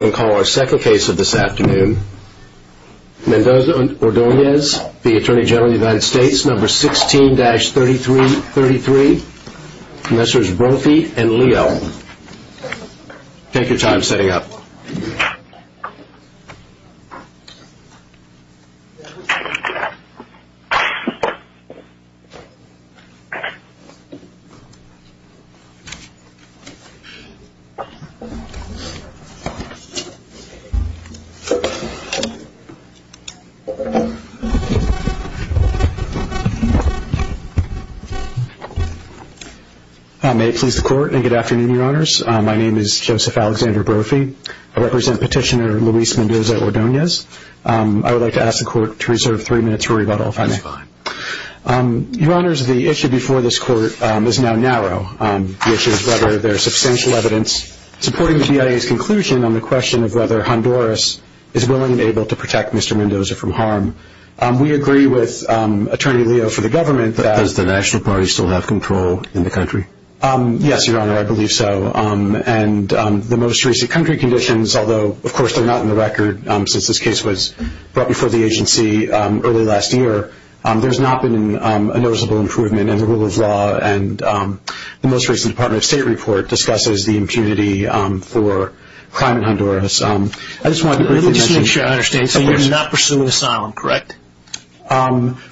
and call our second case of this afternoon. Mendoza-Ordonez v. Atty Gen USA No. 16-3333 Messrs. Brophy and Leon, take your time setting up. May it please the Court and good afternoon, Your Honors. My name is Joseph Alexander Brophy. I represent Petitioner Luis Mendoza-Ordonez. I would like to ask the Court to reserve three minutes for rebuttal, if I may. That's fine. Your Honors, the issue before this Court is now narrow. The issue is whether there is substantial evidence supporting the BIA's conclusion on the question of whether Honduras is willing and able to protect Mr. Mendoza from harm. We agree with Attorney Leo for the Government that... Does the National Party still have control in the country? Yes, Your Honor, I believe so. And the most recent country conditions, although of course they're not in the record since this case was brought before the agency early last year, there's not been a noticeable improvement in the rule of law. And the most recent Department of State report discusses the impunity for crime in Honduras. Let me just make sure I understand. So you're not pursuing asylum, correct?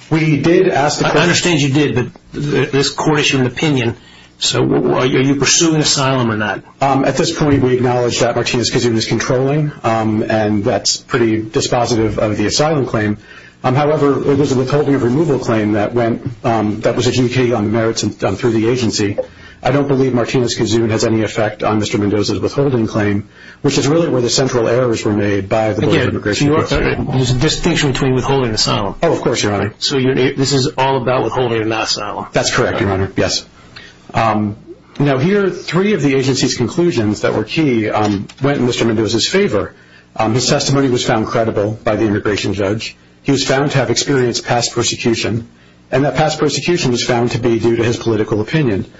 We did ask... I understand you did, but this Court issued an opinion. So are you pursuing asylum or not? At this point, we acknowledge that Martinez-Gazoon is controlling, and that's pretty dispositive of the asylum claim. However, there was a withholding of removal claim that was adjudicated on the merits through the agency. I don't believe Martinez-Gazoon has any effect on Mr. Mendoza's withholding claim, which is really where the central errors were made by the Board of Immigration. Again, there's a distinction between withholding and asylum. Oh, of course, Your Honor. So this is all about withholding and not asylum? That's correct, Your Honor. Yes. Now here, three of the agency's conclusions that were key went in Mr. Mendoza's favor. His testimony was found credible by the immigration judge. He was found to have experienced past persecution, and that past persecution was found to be due to his political opinion.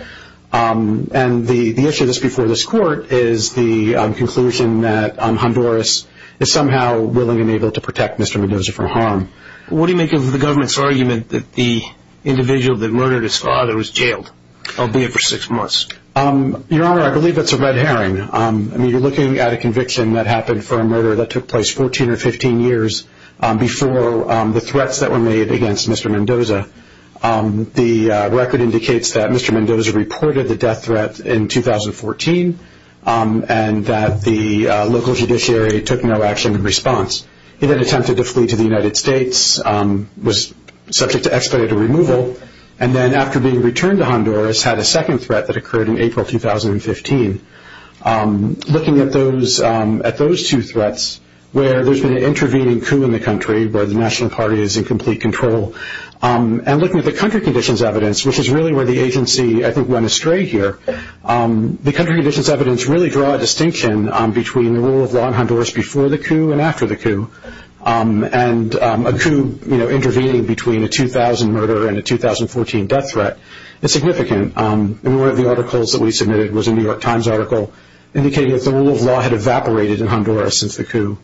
And the issue that's before this Court is the conclusion that Honduras is somehow willing and able to protect Mr. Mendoza for harm. What do you make of the government's argument that the individual that murdered his father was jailed, albeit for six months? Your Honor, I believe that's a red herring. I mean, you're looking at a conviction that happened for a murder that took place 14 or 15 years before the threats that were made against Mr. Mendoza. The record indicates that Mr. Mendoza reported the death threat in 2014 and that the local judiciary took no action in response. He then attempted to flee to the United States, was subject to expedited removal, and then after being returned to Honduras, had a second threat that occurred in April 2015. Looking at those two threats, where there's been an intervening coup in the country, where the national party is in complete control, and looking at the country conditions evidence, which is really where the agency, I think, went astray here, the country conditions evidence really draws a distinction between the rule of law in Honduras before the coup and after the coup. A coup intervening between a 2000 murder and a 2014 death threat is significant. One of the articles that we submitted was a New York Times article indicating that the rule of law had evaporated in Honduras since the coup.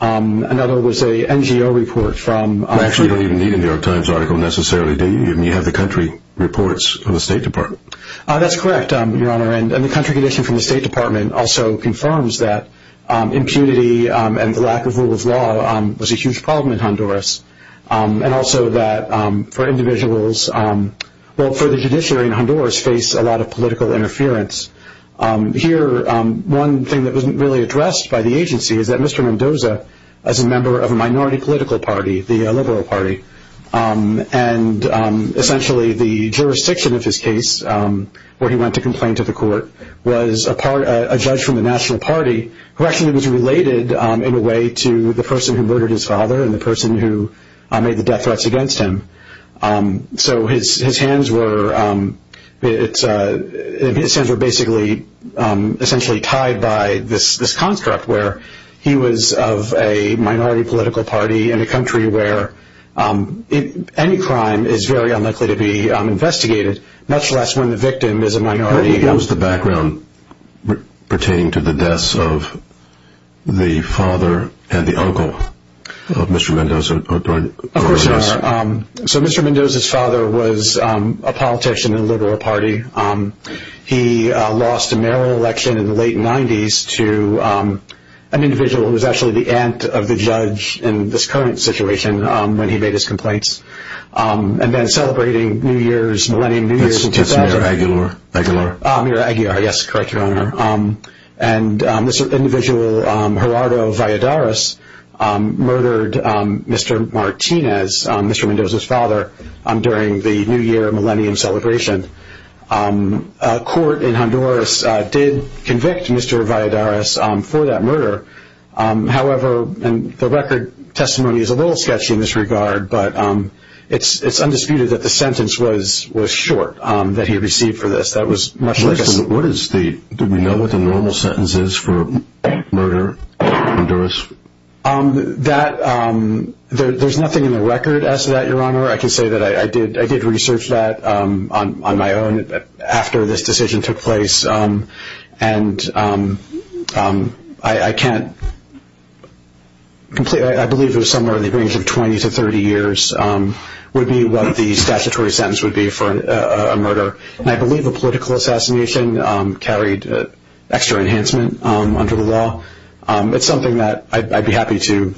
Another was an NGO report from... Actually, you don't even need a New York Times article necessarily, do you? You have the country reports from the State Department. That's correct, Your Honor. And the country condition from the State Department also confirms that impunity and the lack of rule of law was a huge problem in Honduras, and also that for individuals, well, for the judiciary in Honduras, face a lot of political interference. Here, one thing that wasn't really addressed by the agency is that Mr. Mendoza, as a member of a minority political party, the Liberal Party, and essentially the jurisdiction of his case, where he went to complain to the court, was a judge from the National Party who actually was related in a way to the person who murdered his father and the person who made the death threats against him. So his hands were basically essentially tied by this construct where he was of a minority political party in a country where any crime is very unlikely to be investigated, much less when the victim is a minority. What was the background pertaining to the deaths of the father and the uncle of Mr. Mendoza? So Mr. Mendoza's father was a politician in the Liberal Party. He lost a mayoral election in the late 90s to an individual who was actually the aunt of the judge in this current situation when he made his complaints. And then celebrating New Year's, Millennium New Year's... That's Mayor Aguilar. Mayor Aguilar, yes, correct, Your Honor. And this individual, Gerardo Valladares, murdered Mr. Martinez, Mr. Mendoza's father, during the New Year Millennium celebration. A court in Honduras did convict Mr. Valladares for that murder. However, the record testimony is a little sketchy in this regard, but it's undisputed that the sentence was short that he received for this. What is the... Do we know what the normal sentence is for murder in Honduras? There's nothing in the record as to that, Your Honor. I can say that I did research that on my own after this decision took place. And I can't completely... I believe it was somewhere in the range of 20 to 30 years would be what the statutory sentence would be for a murder. And I believe a political assassination carried extra enhancement under the law. It's something that I'd be happy to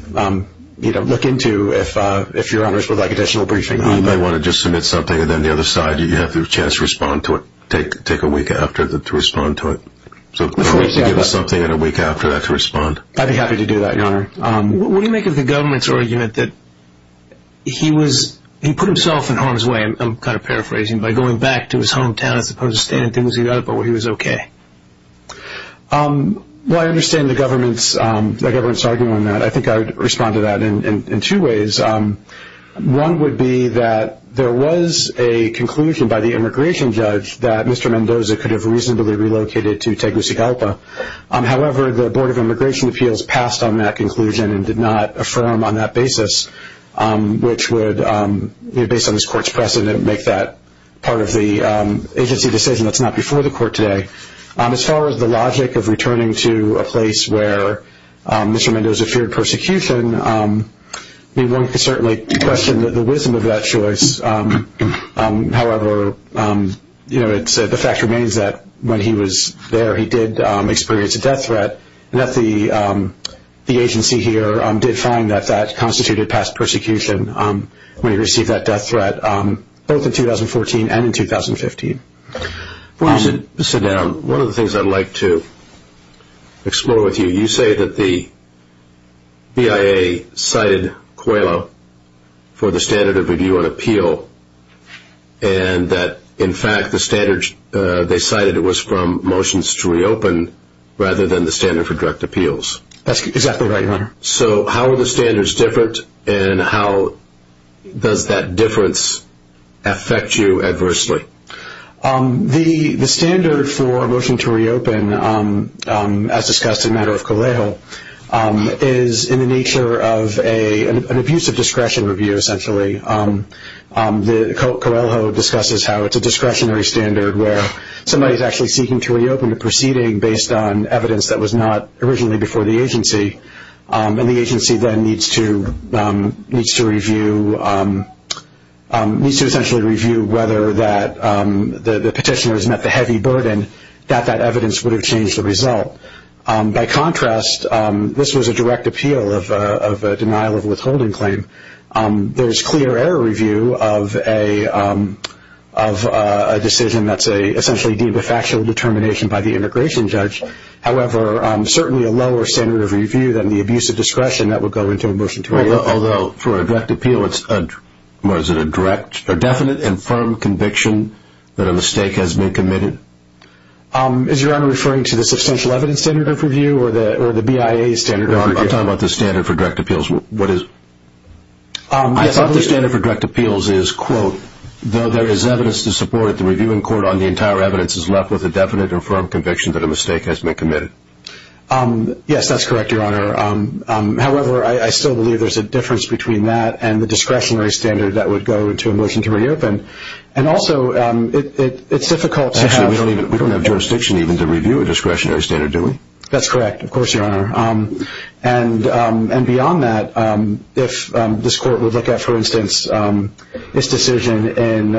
look into if Your Honor's would like additional briefing on it. You may want to just submit something, and then the other side, you have the chance to respond to it, take a week after to respond to it. So can you give us something in a week after that to respond? I'd be happy to do that, Your Honor. What do you make of the government's argument that he was... He put himself in harm's way, I'm kind of paraphrasing, by going back to his hometown as opposed to staying in Tegucigalpa where he was okay? Well, I understand the government's argument on that. I think I would respond to that in two ways. One would be that there was a conclusion by the immigration judge that Mr. Mendoza could have reasonably relocated to Tegucigalpa. However, the Board of Immigration Appeals passed on that conclusion and did not affirm on that basis which would, based on this court's precedent, make that part of the agency decision that's not before the court today. As far as the logic of returning to a place where Mr. Mendoza feared persecution, one could certainly question the wisdom of that choice. However, the fact remains that when he was there, he did experience a death threat, and that the agency here did find that that constituted past persecution when he received that death threat both in 2014 and in 2015. One of the things I'd like to explore with you, you say that the BIA cited COELA for the standard of review and appeal and that, in fact, the standard they cited was from motions to reopen rather than the standard for direct appeals. That's exactly right, Your Honor. So how are the standards different, and how does that difference affect you adversely? The standard for a motion to reopen, as discussed in matter of COLEJO, is in the nature of an abuse of discretion review, essentially. COELA discusses how it's a discretionary standard where somebody is actually seeking to reopen a proceeding based on evidence that was not originally before the agency, and the agency then needs to review whether the petitioner has met the heavy burden that that evidence would have changed the result. By contrast, this was a direct appeal of a denial of withholding claim. There's clear error review of a decision that's essentially deemed a factual determination by the integration judge. However, certainly a lower standard of review than the abuse of discretion that would go into a motion to reopen. Although, for a direct appeal, it's a definite and firm conviction that a mistake has been committed? Is Your Honor referring to the substantial evidence standard of review or the BIA standard of review? I'm talking about the standard for direct appeals. I thought the standard for direct appeals is, quote, though there is evidence to support it, the review in court on the entire evidence is left with a definite and firm conviction that a mistake has been committed. Yes, that's correct, Your Honor. However, I still believe there's a difference between that and the discretionary standard that would go to a motion to reopen. And also, it's difficult to have... Actually, we don't have jurisdiction even to review a discretionary standard, do we? That's correct, of course, Your Honor. And beyond that, if this court would look at, for instance, this decision in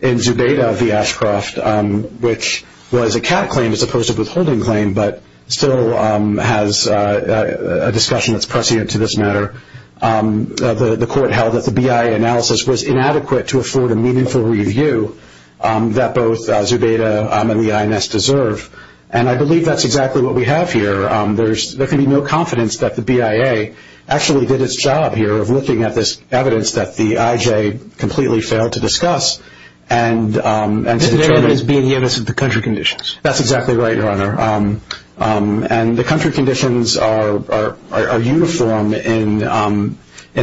Zubeda v. Ashcroft, which was a cat claim as opposed to a withholding claim but still has a discussion that's prescient to this matter, the court held that the BIA analysis was inadequate to afford a meaningful review that both Zubeda and the INS deserve. And I believe that's exactly what we have here. There can be no confidence that the BIA actually did its job here of looking at this evidence that the IJ completely failed to discuss and to determine... Zubeda is being innocent of country conditions. That's exactly right, Your Honor. And the country conditions are uniform in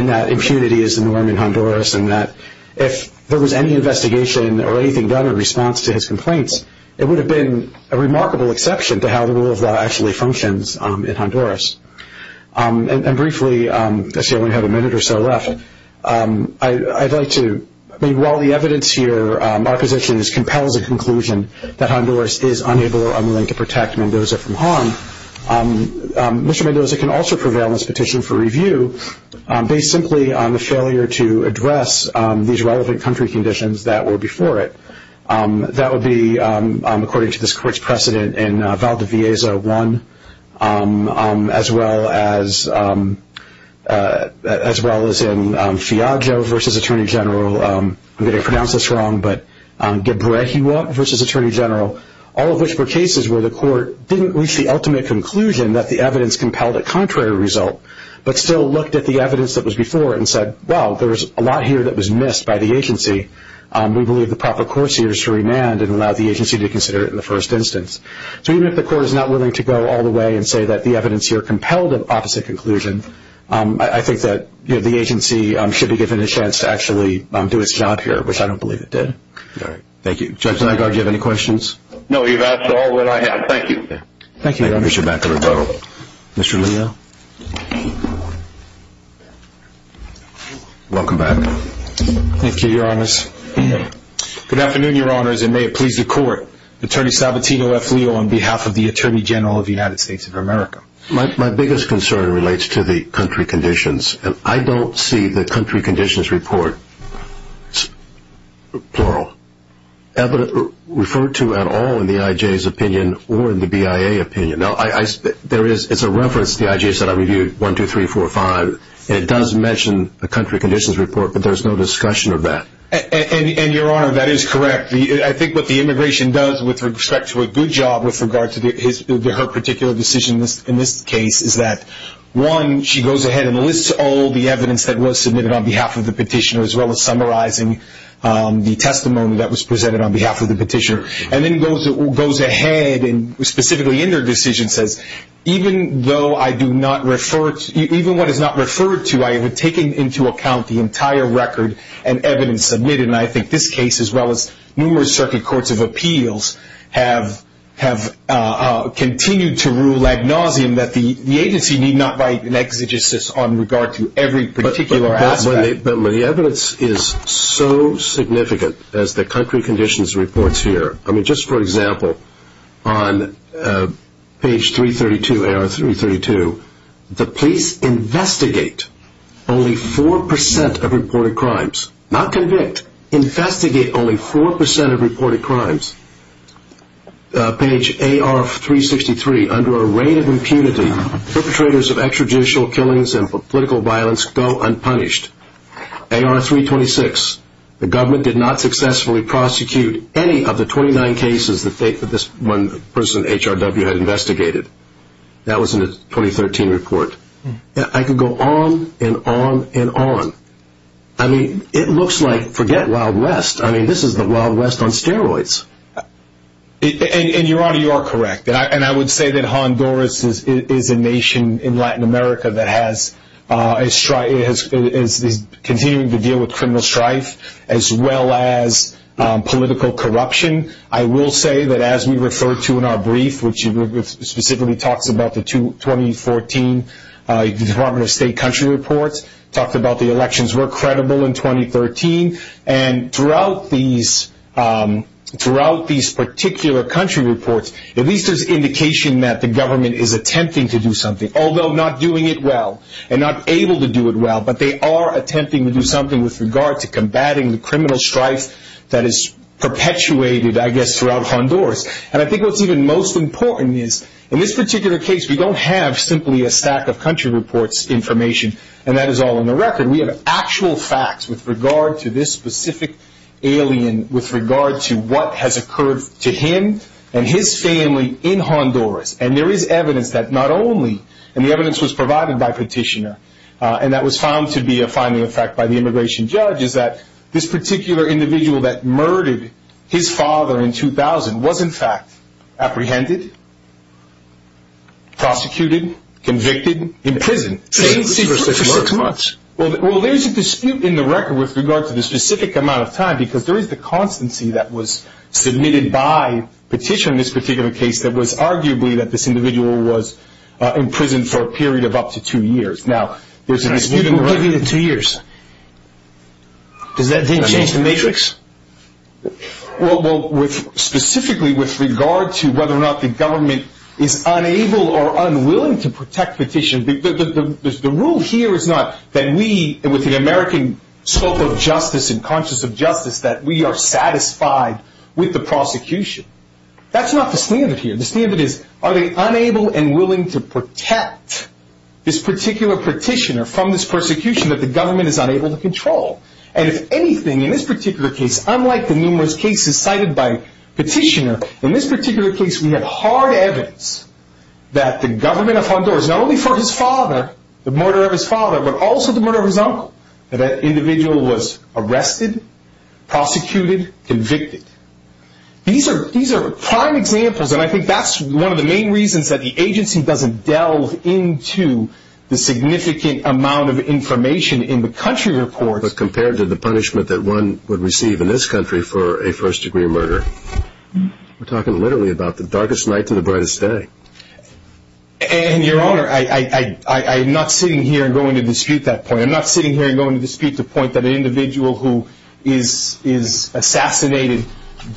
that impunity is the norm in Honduras and that if there was any investigation or anything done in response to his complaints, it would have been a remarkable exception to how the rule of law actually functions in Honduras. And briefly, I see I only have a minute or so left. I'd like to... I mean, while the evidence here, our position, compels the conclusion that Honduras is unable or unwilling to protect Mendoza from harm, Mr. Mendoza can also prevail in his petition for review based simply on the failure to address these relevant country conditions that were before it. That would be, according to this court's precedent, in Valdevieza 1, as well as in Fiajo v. Attorney General, I'm going to pronounce this wrong, but Gebrehiwot v. Attorney General, all of which were cases where the court didn't reach the ultimate conclusion that the evidence compelled a contrary result, but still looked at the evidence that was before it and said, well, there was a lot here that was missed by the agency. We believe the proper course here is to remand and allow the agency to consider it in the first instance. So even if the court is not willing to go all the way and say that the evidence here compelled an opposite conclusion, I think that the agency should be given a chance to actually do its job here, which I don't believe it did. All right. Thank you. Judge Nygard, do you have any questions? No, you've asked all that I have. Thank you. Thank you, Your Honor. Thank you, Mr. Bacalobo. Mr. Linio? Welcome back. Thank you, Your Honors. Good afternoon, Your Honors, and may it please the court. Attorney Salvatino F. Leo on behalf of the Attorney General of the United States of America. My biggest concern relates to the country conditions, and I don't see the country conditions report, plural, ever referred to at all in the IJ's opinion or in the BIA opinion. It's a reference to the IJ's that I reviewed, 1, 2, 3, 4, 5, and it does mention the country conditions report, but there's no discussion of that. And, Your Honor, that is correct. I think what the immigration does with respect to a good job with regard to her particular decision in this case is that, one, she goes ahead and lists all the evidence that was submitted on behalf of the petitioner as well as summarizing the testimony that was presented on behalf of the petitioner, and then goes ahead and specifically in her decision says, even though I do not refer to, even what is not referred to, I have taken into account the entire record and evidence submitted, and I think this case, as well as numerous circuit courts of appeals, have continued to rule ad nauseum that the agency need not write an exegesis on regard to every particular aspect. But the evidence is so significant as the country conditions reports here. I mean, just for example, on page 332, AR 332, the police investigate only 4% of reported crimes, not convict. Investigate only 4% of reported crimes. Page AR 363, under a rate of impunity, perpetrators of extrajudicial killings and political violence go unpunished. AR 326, the government did not successfully prosecute any of the 29 cases that this one person, HRW, had investigated. That was in the 2013 report. I could go on and on and on. I mean, it looks like, forget Wild West, I mean, this is the Wild West on steroids. And, Your Honor, you are correct. And I would say that Honduras is a nation in Latin America that is continuing to deal with criminal strife as well as political corruption. I will say that as we refer to in our brief, which specifically talks about the 2014 Department of State country reports, talked about the elections were credible in 2013, and throughout these particular country reports, at least there's indication that the government is attempting to do something, although not doing it well, and not able to do it well, but they are attempting to do something with regard to combating the criminal strife that is perpetuated, I guess, throughout Honduras. And I think what's even most important is, in this particular case, we don't have simply a stack of country reports information, and that is all in the record. We have actual facts with regard to this specific alien, with regard to what has occurred to him and his family in Honduras. And there is evidence that not only, and the evidence was provided by Petitioner, and that was found to be a finding of fact by the immigration judge, is that this particular individual that murdered his father in 2000 was, in fact, apprehended, prosecuted, convicted, imprisoned. Well, there's a dispute in the record with regard to the specific amount of time, because there is the constancy that was submitted by Petitioner in this particular case that was arguably that this individual was imprisoned for a period of up to two years. Now, there's a dispute in the record. Two years. Does that change the matrix? Well, specifically with regard to whether or not the government is unable or unwilling to protect Petitioner, the rule here is not that we, with the American scope of justice and conscience of justice, that we are satisfied with the prosecution. That's not the standard here. The standard is, are they unable and willing to protect this particular Petitioner from this persecution that the government is unable to control? And if anything, in this particular case, unlike the numerous cases cited by Petitioner, in this particular case we have hard evidence that the government of Honduras, not only for his father, the murder of his father, but also the murder of his uncle, that that individual was arrested, prosecuted, convicted. These are prime examples, and I think that's one of the main reasons that the agency doesn't delve into the significant amount of information in the country reports. But compared to the punishment that one would receive in this country for a first-degree murder, we're talking literally about the darkest night to the brightest day. And, Your Honor, I'm not sitting here and going to dispute that point. I'm not sitting here and going to dispute the point that an individual who is assassinated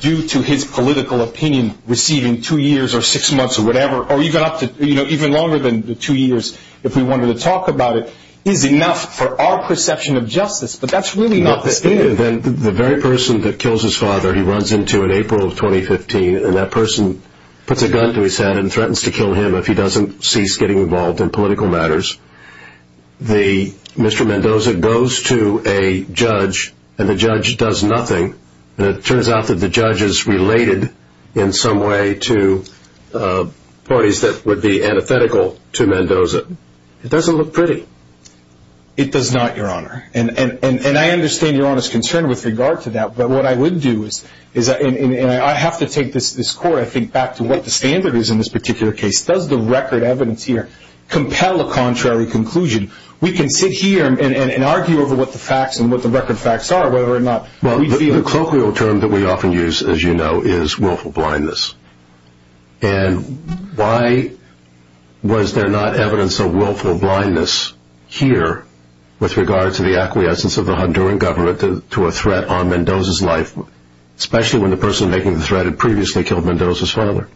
due to his political opinion, receiving two years or six months or whatever, or even longer than the two years if we wanted to talk about it, is enough for our perception of justice. But that's really not the case. Then the very person that kills his father, he runs into in April of 2015, and that person puts a gun to his head and threatens to kill him if he doesn't cease getting involved in political matters. Mr. Mendoza goes to a judge, and the judge does nothing. And it turns out that the judge is related in some way to parties that would be antithetical to Mendoza. It doesn't look pretty. It does not, Your Honor. And I understand Your Honor's concern with regard to that. But what I would do is, and I have to take this score, I think, back to what the standard is in this particular case. Does the record evidence here compel a contrary conclusion? We can sit here and argue over what the facts and what the record facts are, whether or not we feel... Well, the colloquial term that we often use, as you know, is willful blindness. And why was there not evidence of willful blindness here, with regard to the acquiescence of the Honduran government to a threat on Mendoza's life, especially when the person making the threat had previously killed Mendoza's father?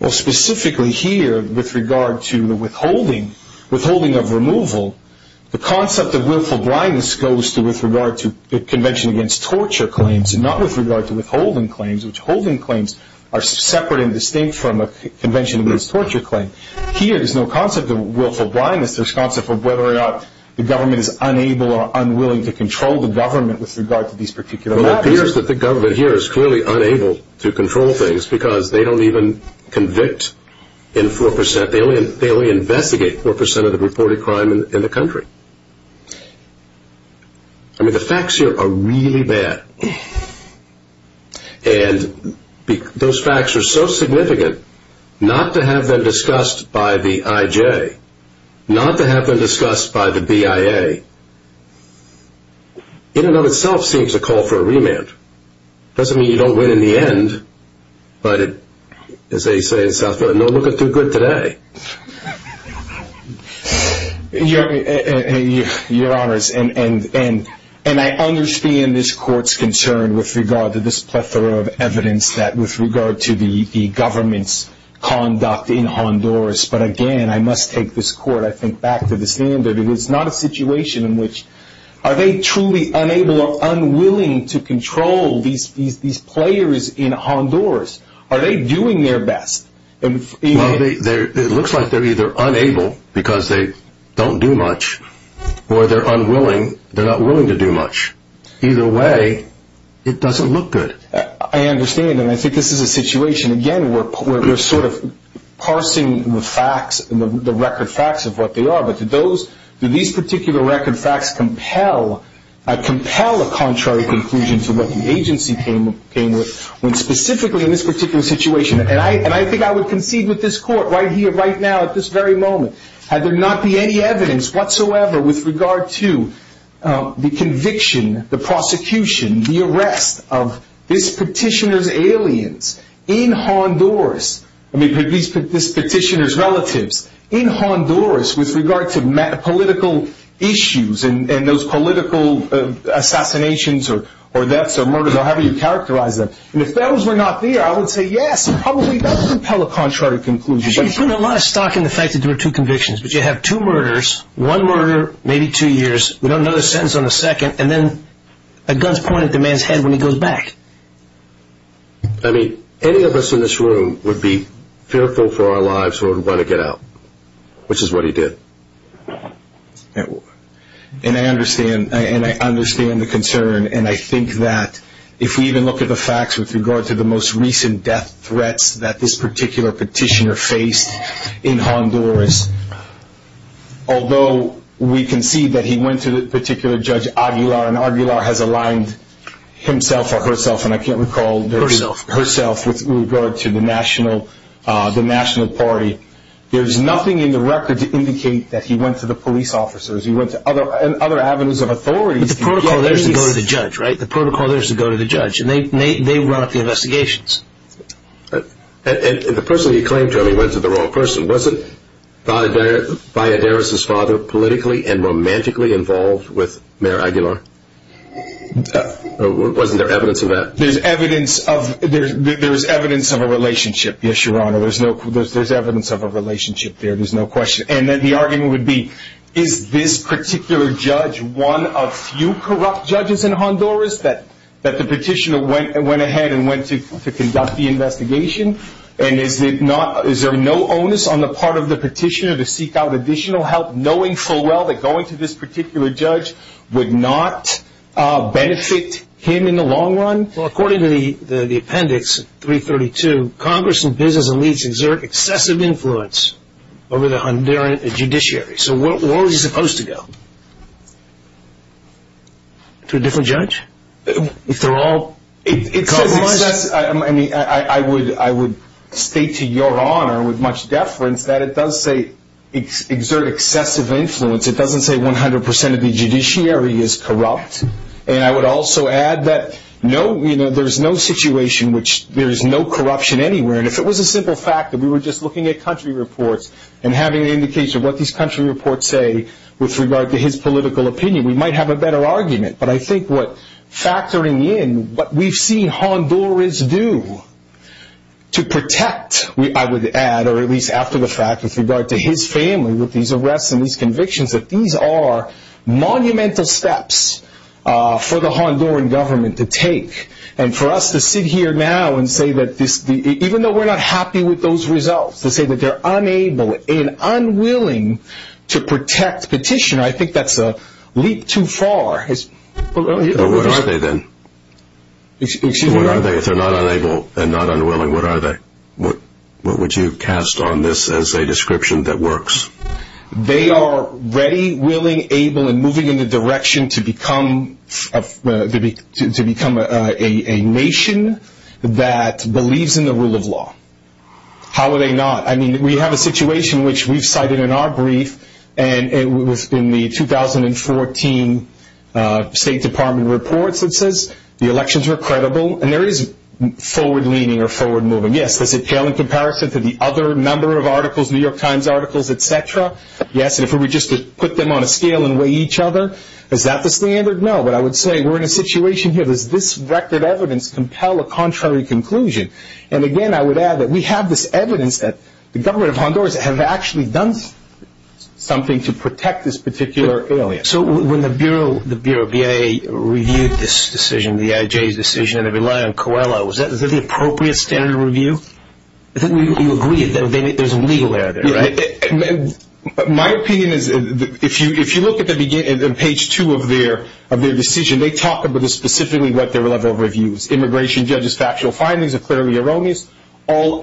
Well, specifically here, with regard to the withholding of removal, the concept of willful blindness goes to with regard to the Convention Against Torture claims, not with regard to withholding claims, which withholding claims are separate and distinct from a Convention Against Torture claim. Here, there's no concept of willful blindness. There's a concept of whether or not the government is unable or unwilling to control the government with regard to these particular matters. Well, it appears that the government here is clearly unable to control things, because they don't even convict in 4%. They only investigate 4% of the reported crime in the country. I mean, the facts here are really bad. And those facts are so significant, not to have them discussed by the IJ, not to have them discussed by the BIA, in and of itself seems to call for a remand. It doesn't mean you don't win in the end, but as they say in South Florida, no looking too good today. Your Honors, and I understand this Court's concern with regard to this plethora of evidence that with regard to the government's conduct in Honduras, but again, I must take this Court, I think, back to the standard. It is not a situation in which are they truly unable or unwilling to control these players in Honduras? Are they doing their best? Well, it looks like they're either unable, because they don't do much, or they're unwilling, they're not willing to do much. Either way, it doesn't look good. I understand, and I think this is a situation, again, where they're sort of parsing the facts, the record facts of what they are, but do these particular record facts compel a contrary conclusion to what the agency came with, when specifically in this particular situation, and I think I would concede with this Court right here, right now, at this very moment, had there not been any evidence whatsoever with regard to the conviction, the prosecution, the arrest of this petitioner's aliens in Honduras, I mean, this petitioner's relatives in Honduras with regard to political issues and those political assassinations or deaths or murders, or however you characterize them, and if those were not there, I would say, yes, it probably does compel a contrary conclusion. You put a lot of stock in the fact that there were two convictions, but you have two murders, one murder, maybe two years, we don't know the sentence on the second, and then a gun's pointed at the man's head when he goes back. I mean, any of us in this room would be fearful for our lives or would want to get out, which is what he did. And I understand, and I understand the concern, and I think that if we even look at the facts with regard to the most recent death threats that this particular petitioner faced in Honduras, although we concede that he went to the particular judge Aguilar, and Aguilar has aligned himself or herself, and I can't recall, herself, with regard to the national party, there's nothing in the record to indicate that he went to the police officers, he went to other avenues of authority. But the protocol there is to go to the judge, right? The protocol there is to go to the judge. And they run up the investigations. And the person he claimed to have, he went to the wrong person. Wasn't Valladares' father politically and romantically involved with Mayor Aguilar? Or wasn't there evidence of that? There's evidence of a relationship, yes, Your Honor. There's evidence of a relationship there, there's no question. And then the argument would be, is this particular judge one of few corrupt judges in Honduras that the petitioner went ahead and went to conduct the investigation? And is there no onus on the part of the petitioner to seek out additional help, knowing full well that going to this particular judge would not benefit him in the long run? Well, according to the appendix 332, Congress and business elites exert excessive influence over the Honduran judiciary. So where was he supposed to go? To a different judge? I would state to Your Honor with much deference that it does say exert excessive influence. It doesn't say 100% of the judiciary is corrupt. And I would also add that there's no situation which there is no corruption anywhere. And if it was a simple fact that we were just looking at country reports and having an indication of what these country reports say with regard to his political opinion, we might have a better argument. But I think what factoring in what we've seen Honduras do to protect, I would add, or at least after the fact with regard to his family with these arrests and these convictions, that these are monumental steps for the Honduran government to take. And for us to sit here now and say that this, even though we're not happy with those results, to say that they're unable and unwilling to protect petitioner, I think that's a leap too far. But what are they then? If they're not unable and not unwilling, what are they? What would you cast on this as a description that works? They are ready, willing, able, and moving in the direction to become a nation that believes in the rule of law. How are they not? I mean, we have a situation which we've cited in our brief, and it was in the 2014 State Department reports that says the elections were credible, and there is forward-leaning or forward-moving. Yes, does it pale in comparison to the other number of articles, New York Times articles, et cetera? Yes. And if we were just to put them on a scale and weigh each other, is that the standard? No. But I would say we're in a situation here, does this record evidence compel a contrary conclusion? And, again, I would add that we have this evidence that the government of Honduras have actually done something to protect this particular area. So when the Bureau of VA reviewed this decision, the IJ's decision, and it relied on COELA, is that the appropriate standard of review? You agree that there's legal error there, right? My opinion is if you look at the beginning, page two of their decision, they talk about specifically what their level of review is, immigration judges' factual findings are clearly erroneous. All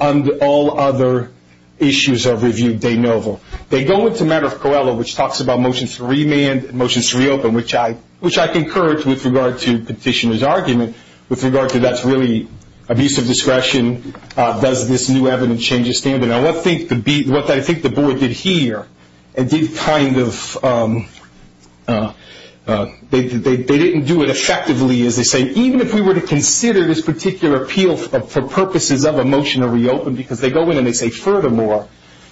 other issues are reviewed de novo. They go into matter of COELA, which talks about motions to remand, motions to reopen, which I concur with regard to Petitioner's argument, with regard to that's really abuse of discretion, does this new evidence change the standard? Now, what I think the Board did here and did kind of they didn't do it effectively, as they say. But even if we were to consider this particular appeal for purposes of a motion to reopen, because they go in and they say furthermore,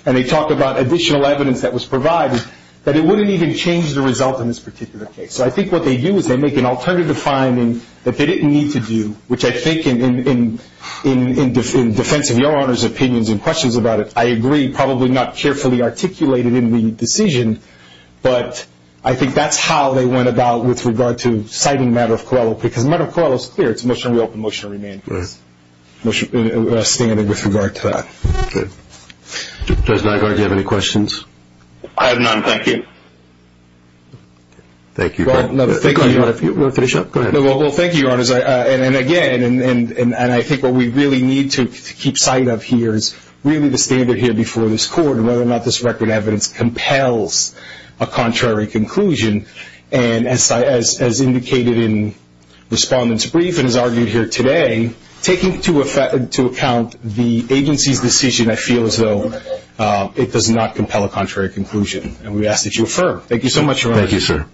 and they talk about additional evidence that was provided, that it wouldn't even change the result in this particular case. So I think what they do is they make an alternative finding that they didn't need to do, which I think in defense of Your Honor's opinions and questions about it, I agree probably not carefully articulated in the decision, but I think that's how they went about with regard to citing matter of COELA, because matter of COELA is clear. It's a motion to reopen, motion to remand. It's a standard with regard to that. Okay. Judge Nygaard, do you have any questions? I have none. Thank you. Thank you. Well, thank you, Your Honor. If you want to finish up, go ahead. Well, thank you, Your Honor. And again, and I think what we really need to keep sight of here is really the standard here before this Court and whether or not this record of evidence compels a contrary conclusion. And as indicated in Respondent's brief and as argued here today, taking into account the agency's decision, I feel as though it does not compel a contrary conclusion. And we ask that you affirm. Thank you so much, Your Honor. Thank you, sir.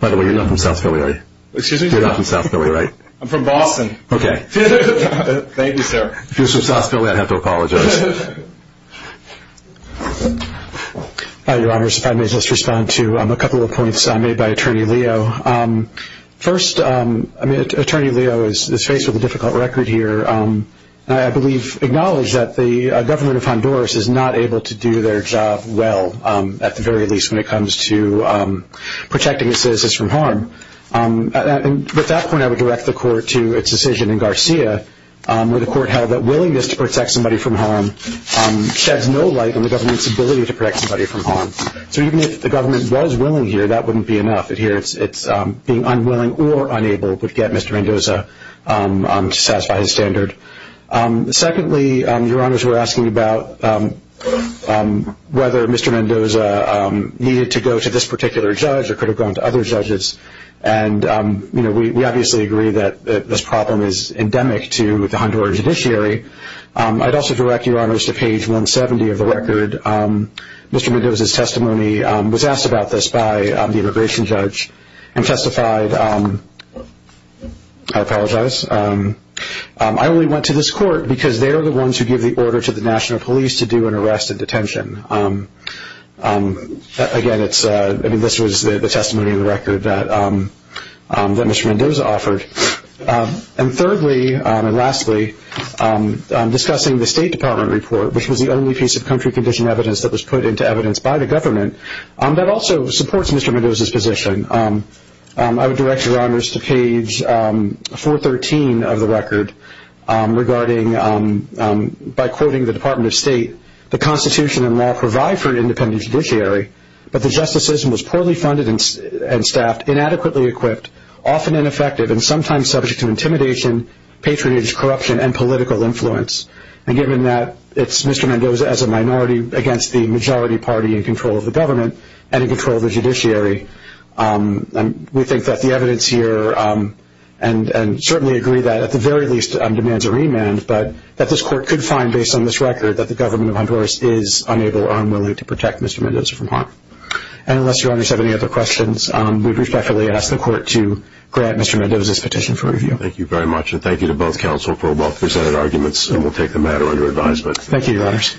By the way, you're not from South Philly, are you? Excuse me? You're not from South Philly, right? I'm from Boston. Okay. Thank you, sir. If he was from South Philly, I'd have to apologize. Your Honor, if I may just respond to a couple of points made by Attorney Leo. First, Attorney Leo is faced with a difficult record here. I believe, acknowledge that the government of Honduras is not able to do their job well, at the very least when it comes to protecting its citizens from harm. At that point, I would direct the Court to its decision in Garcia, where the Court held that willingness to protect somebody from harm sheds no light on the government's ability to protect somebody from harm. So even if the government was willing here, that wouldn't be enough. Here, being unwilling or unable would get Mr. Mendoza to satisfy his standard. Secondly, Your Honors were asking about whether Mr. Mendoza needed to go to this particular judge or could have gone to other judges. We obviously agree that this problem is endemic to the Honduran judiciary. I'd also direct Your Honors to page 170 of the record. Mr. Mendoza's testimony was asked about this by the immigration judge and testified. I apologize. I only went to this court because they are the ones who give the order to the national police to do an arrest and detention. Again, this was the testimony of the record that Mr. Mendoza offered. And thirdly and lastly, discussing the State Department report, which was the only piece of country condition evidence that was put into evidence by the government, that also supports Mr. Mendoza's position. I would direct Your Honors to page 413 of the record regarding, by quoting the Department of State, the Constitution and law provide for an independent judiciary, but the justicism was poorly funded and staffed, inadequately equipped, often ineffective, and sometimes subject to intimidation, patronage, corruption, and political influence. And given that, it's Mr. Mendoza as a minority against the majority party in control of the government and in control of the judiciary. We think that the evidence here, and certainly agree that at the very least demands a remand, but that this court could find, based on this record, that the government of Honduras is unable or unwilling to protect Mr. Mendoza from harm. And unless Your Honors have any other questions, we respectfully ask the court to grant Mr. Mendoza's petition for review. Thank you very much, and thank you to both counsel for both presented arguments, and we'll take the matter under advisement. Thank you, Your Honors.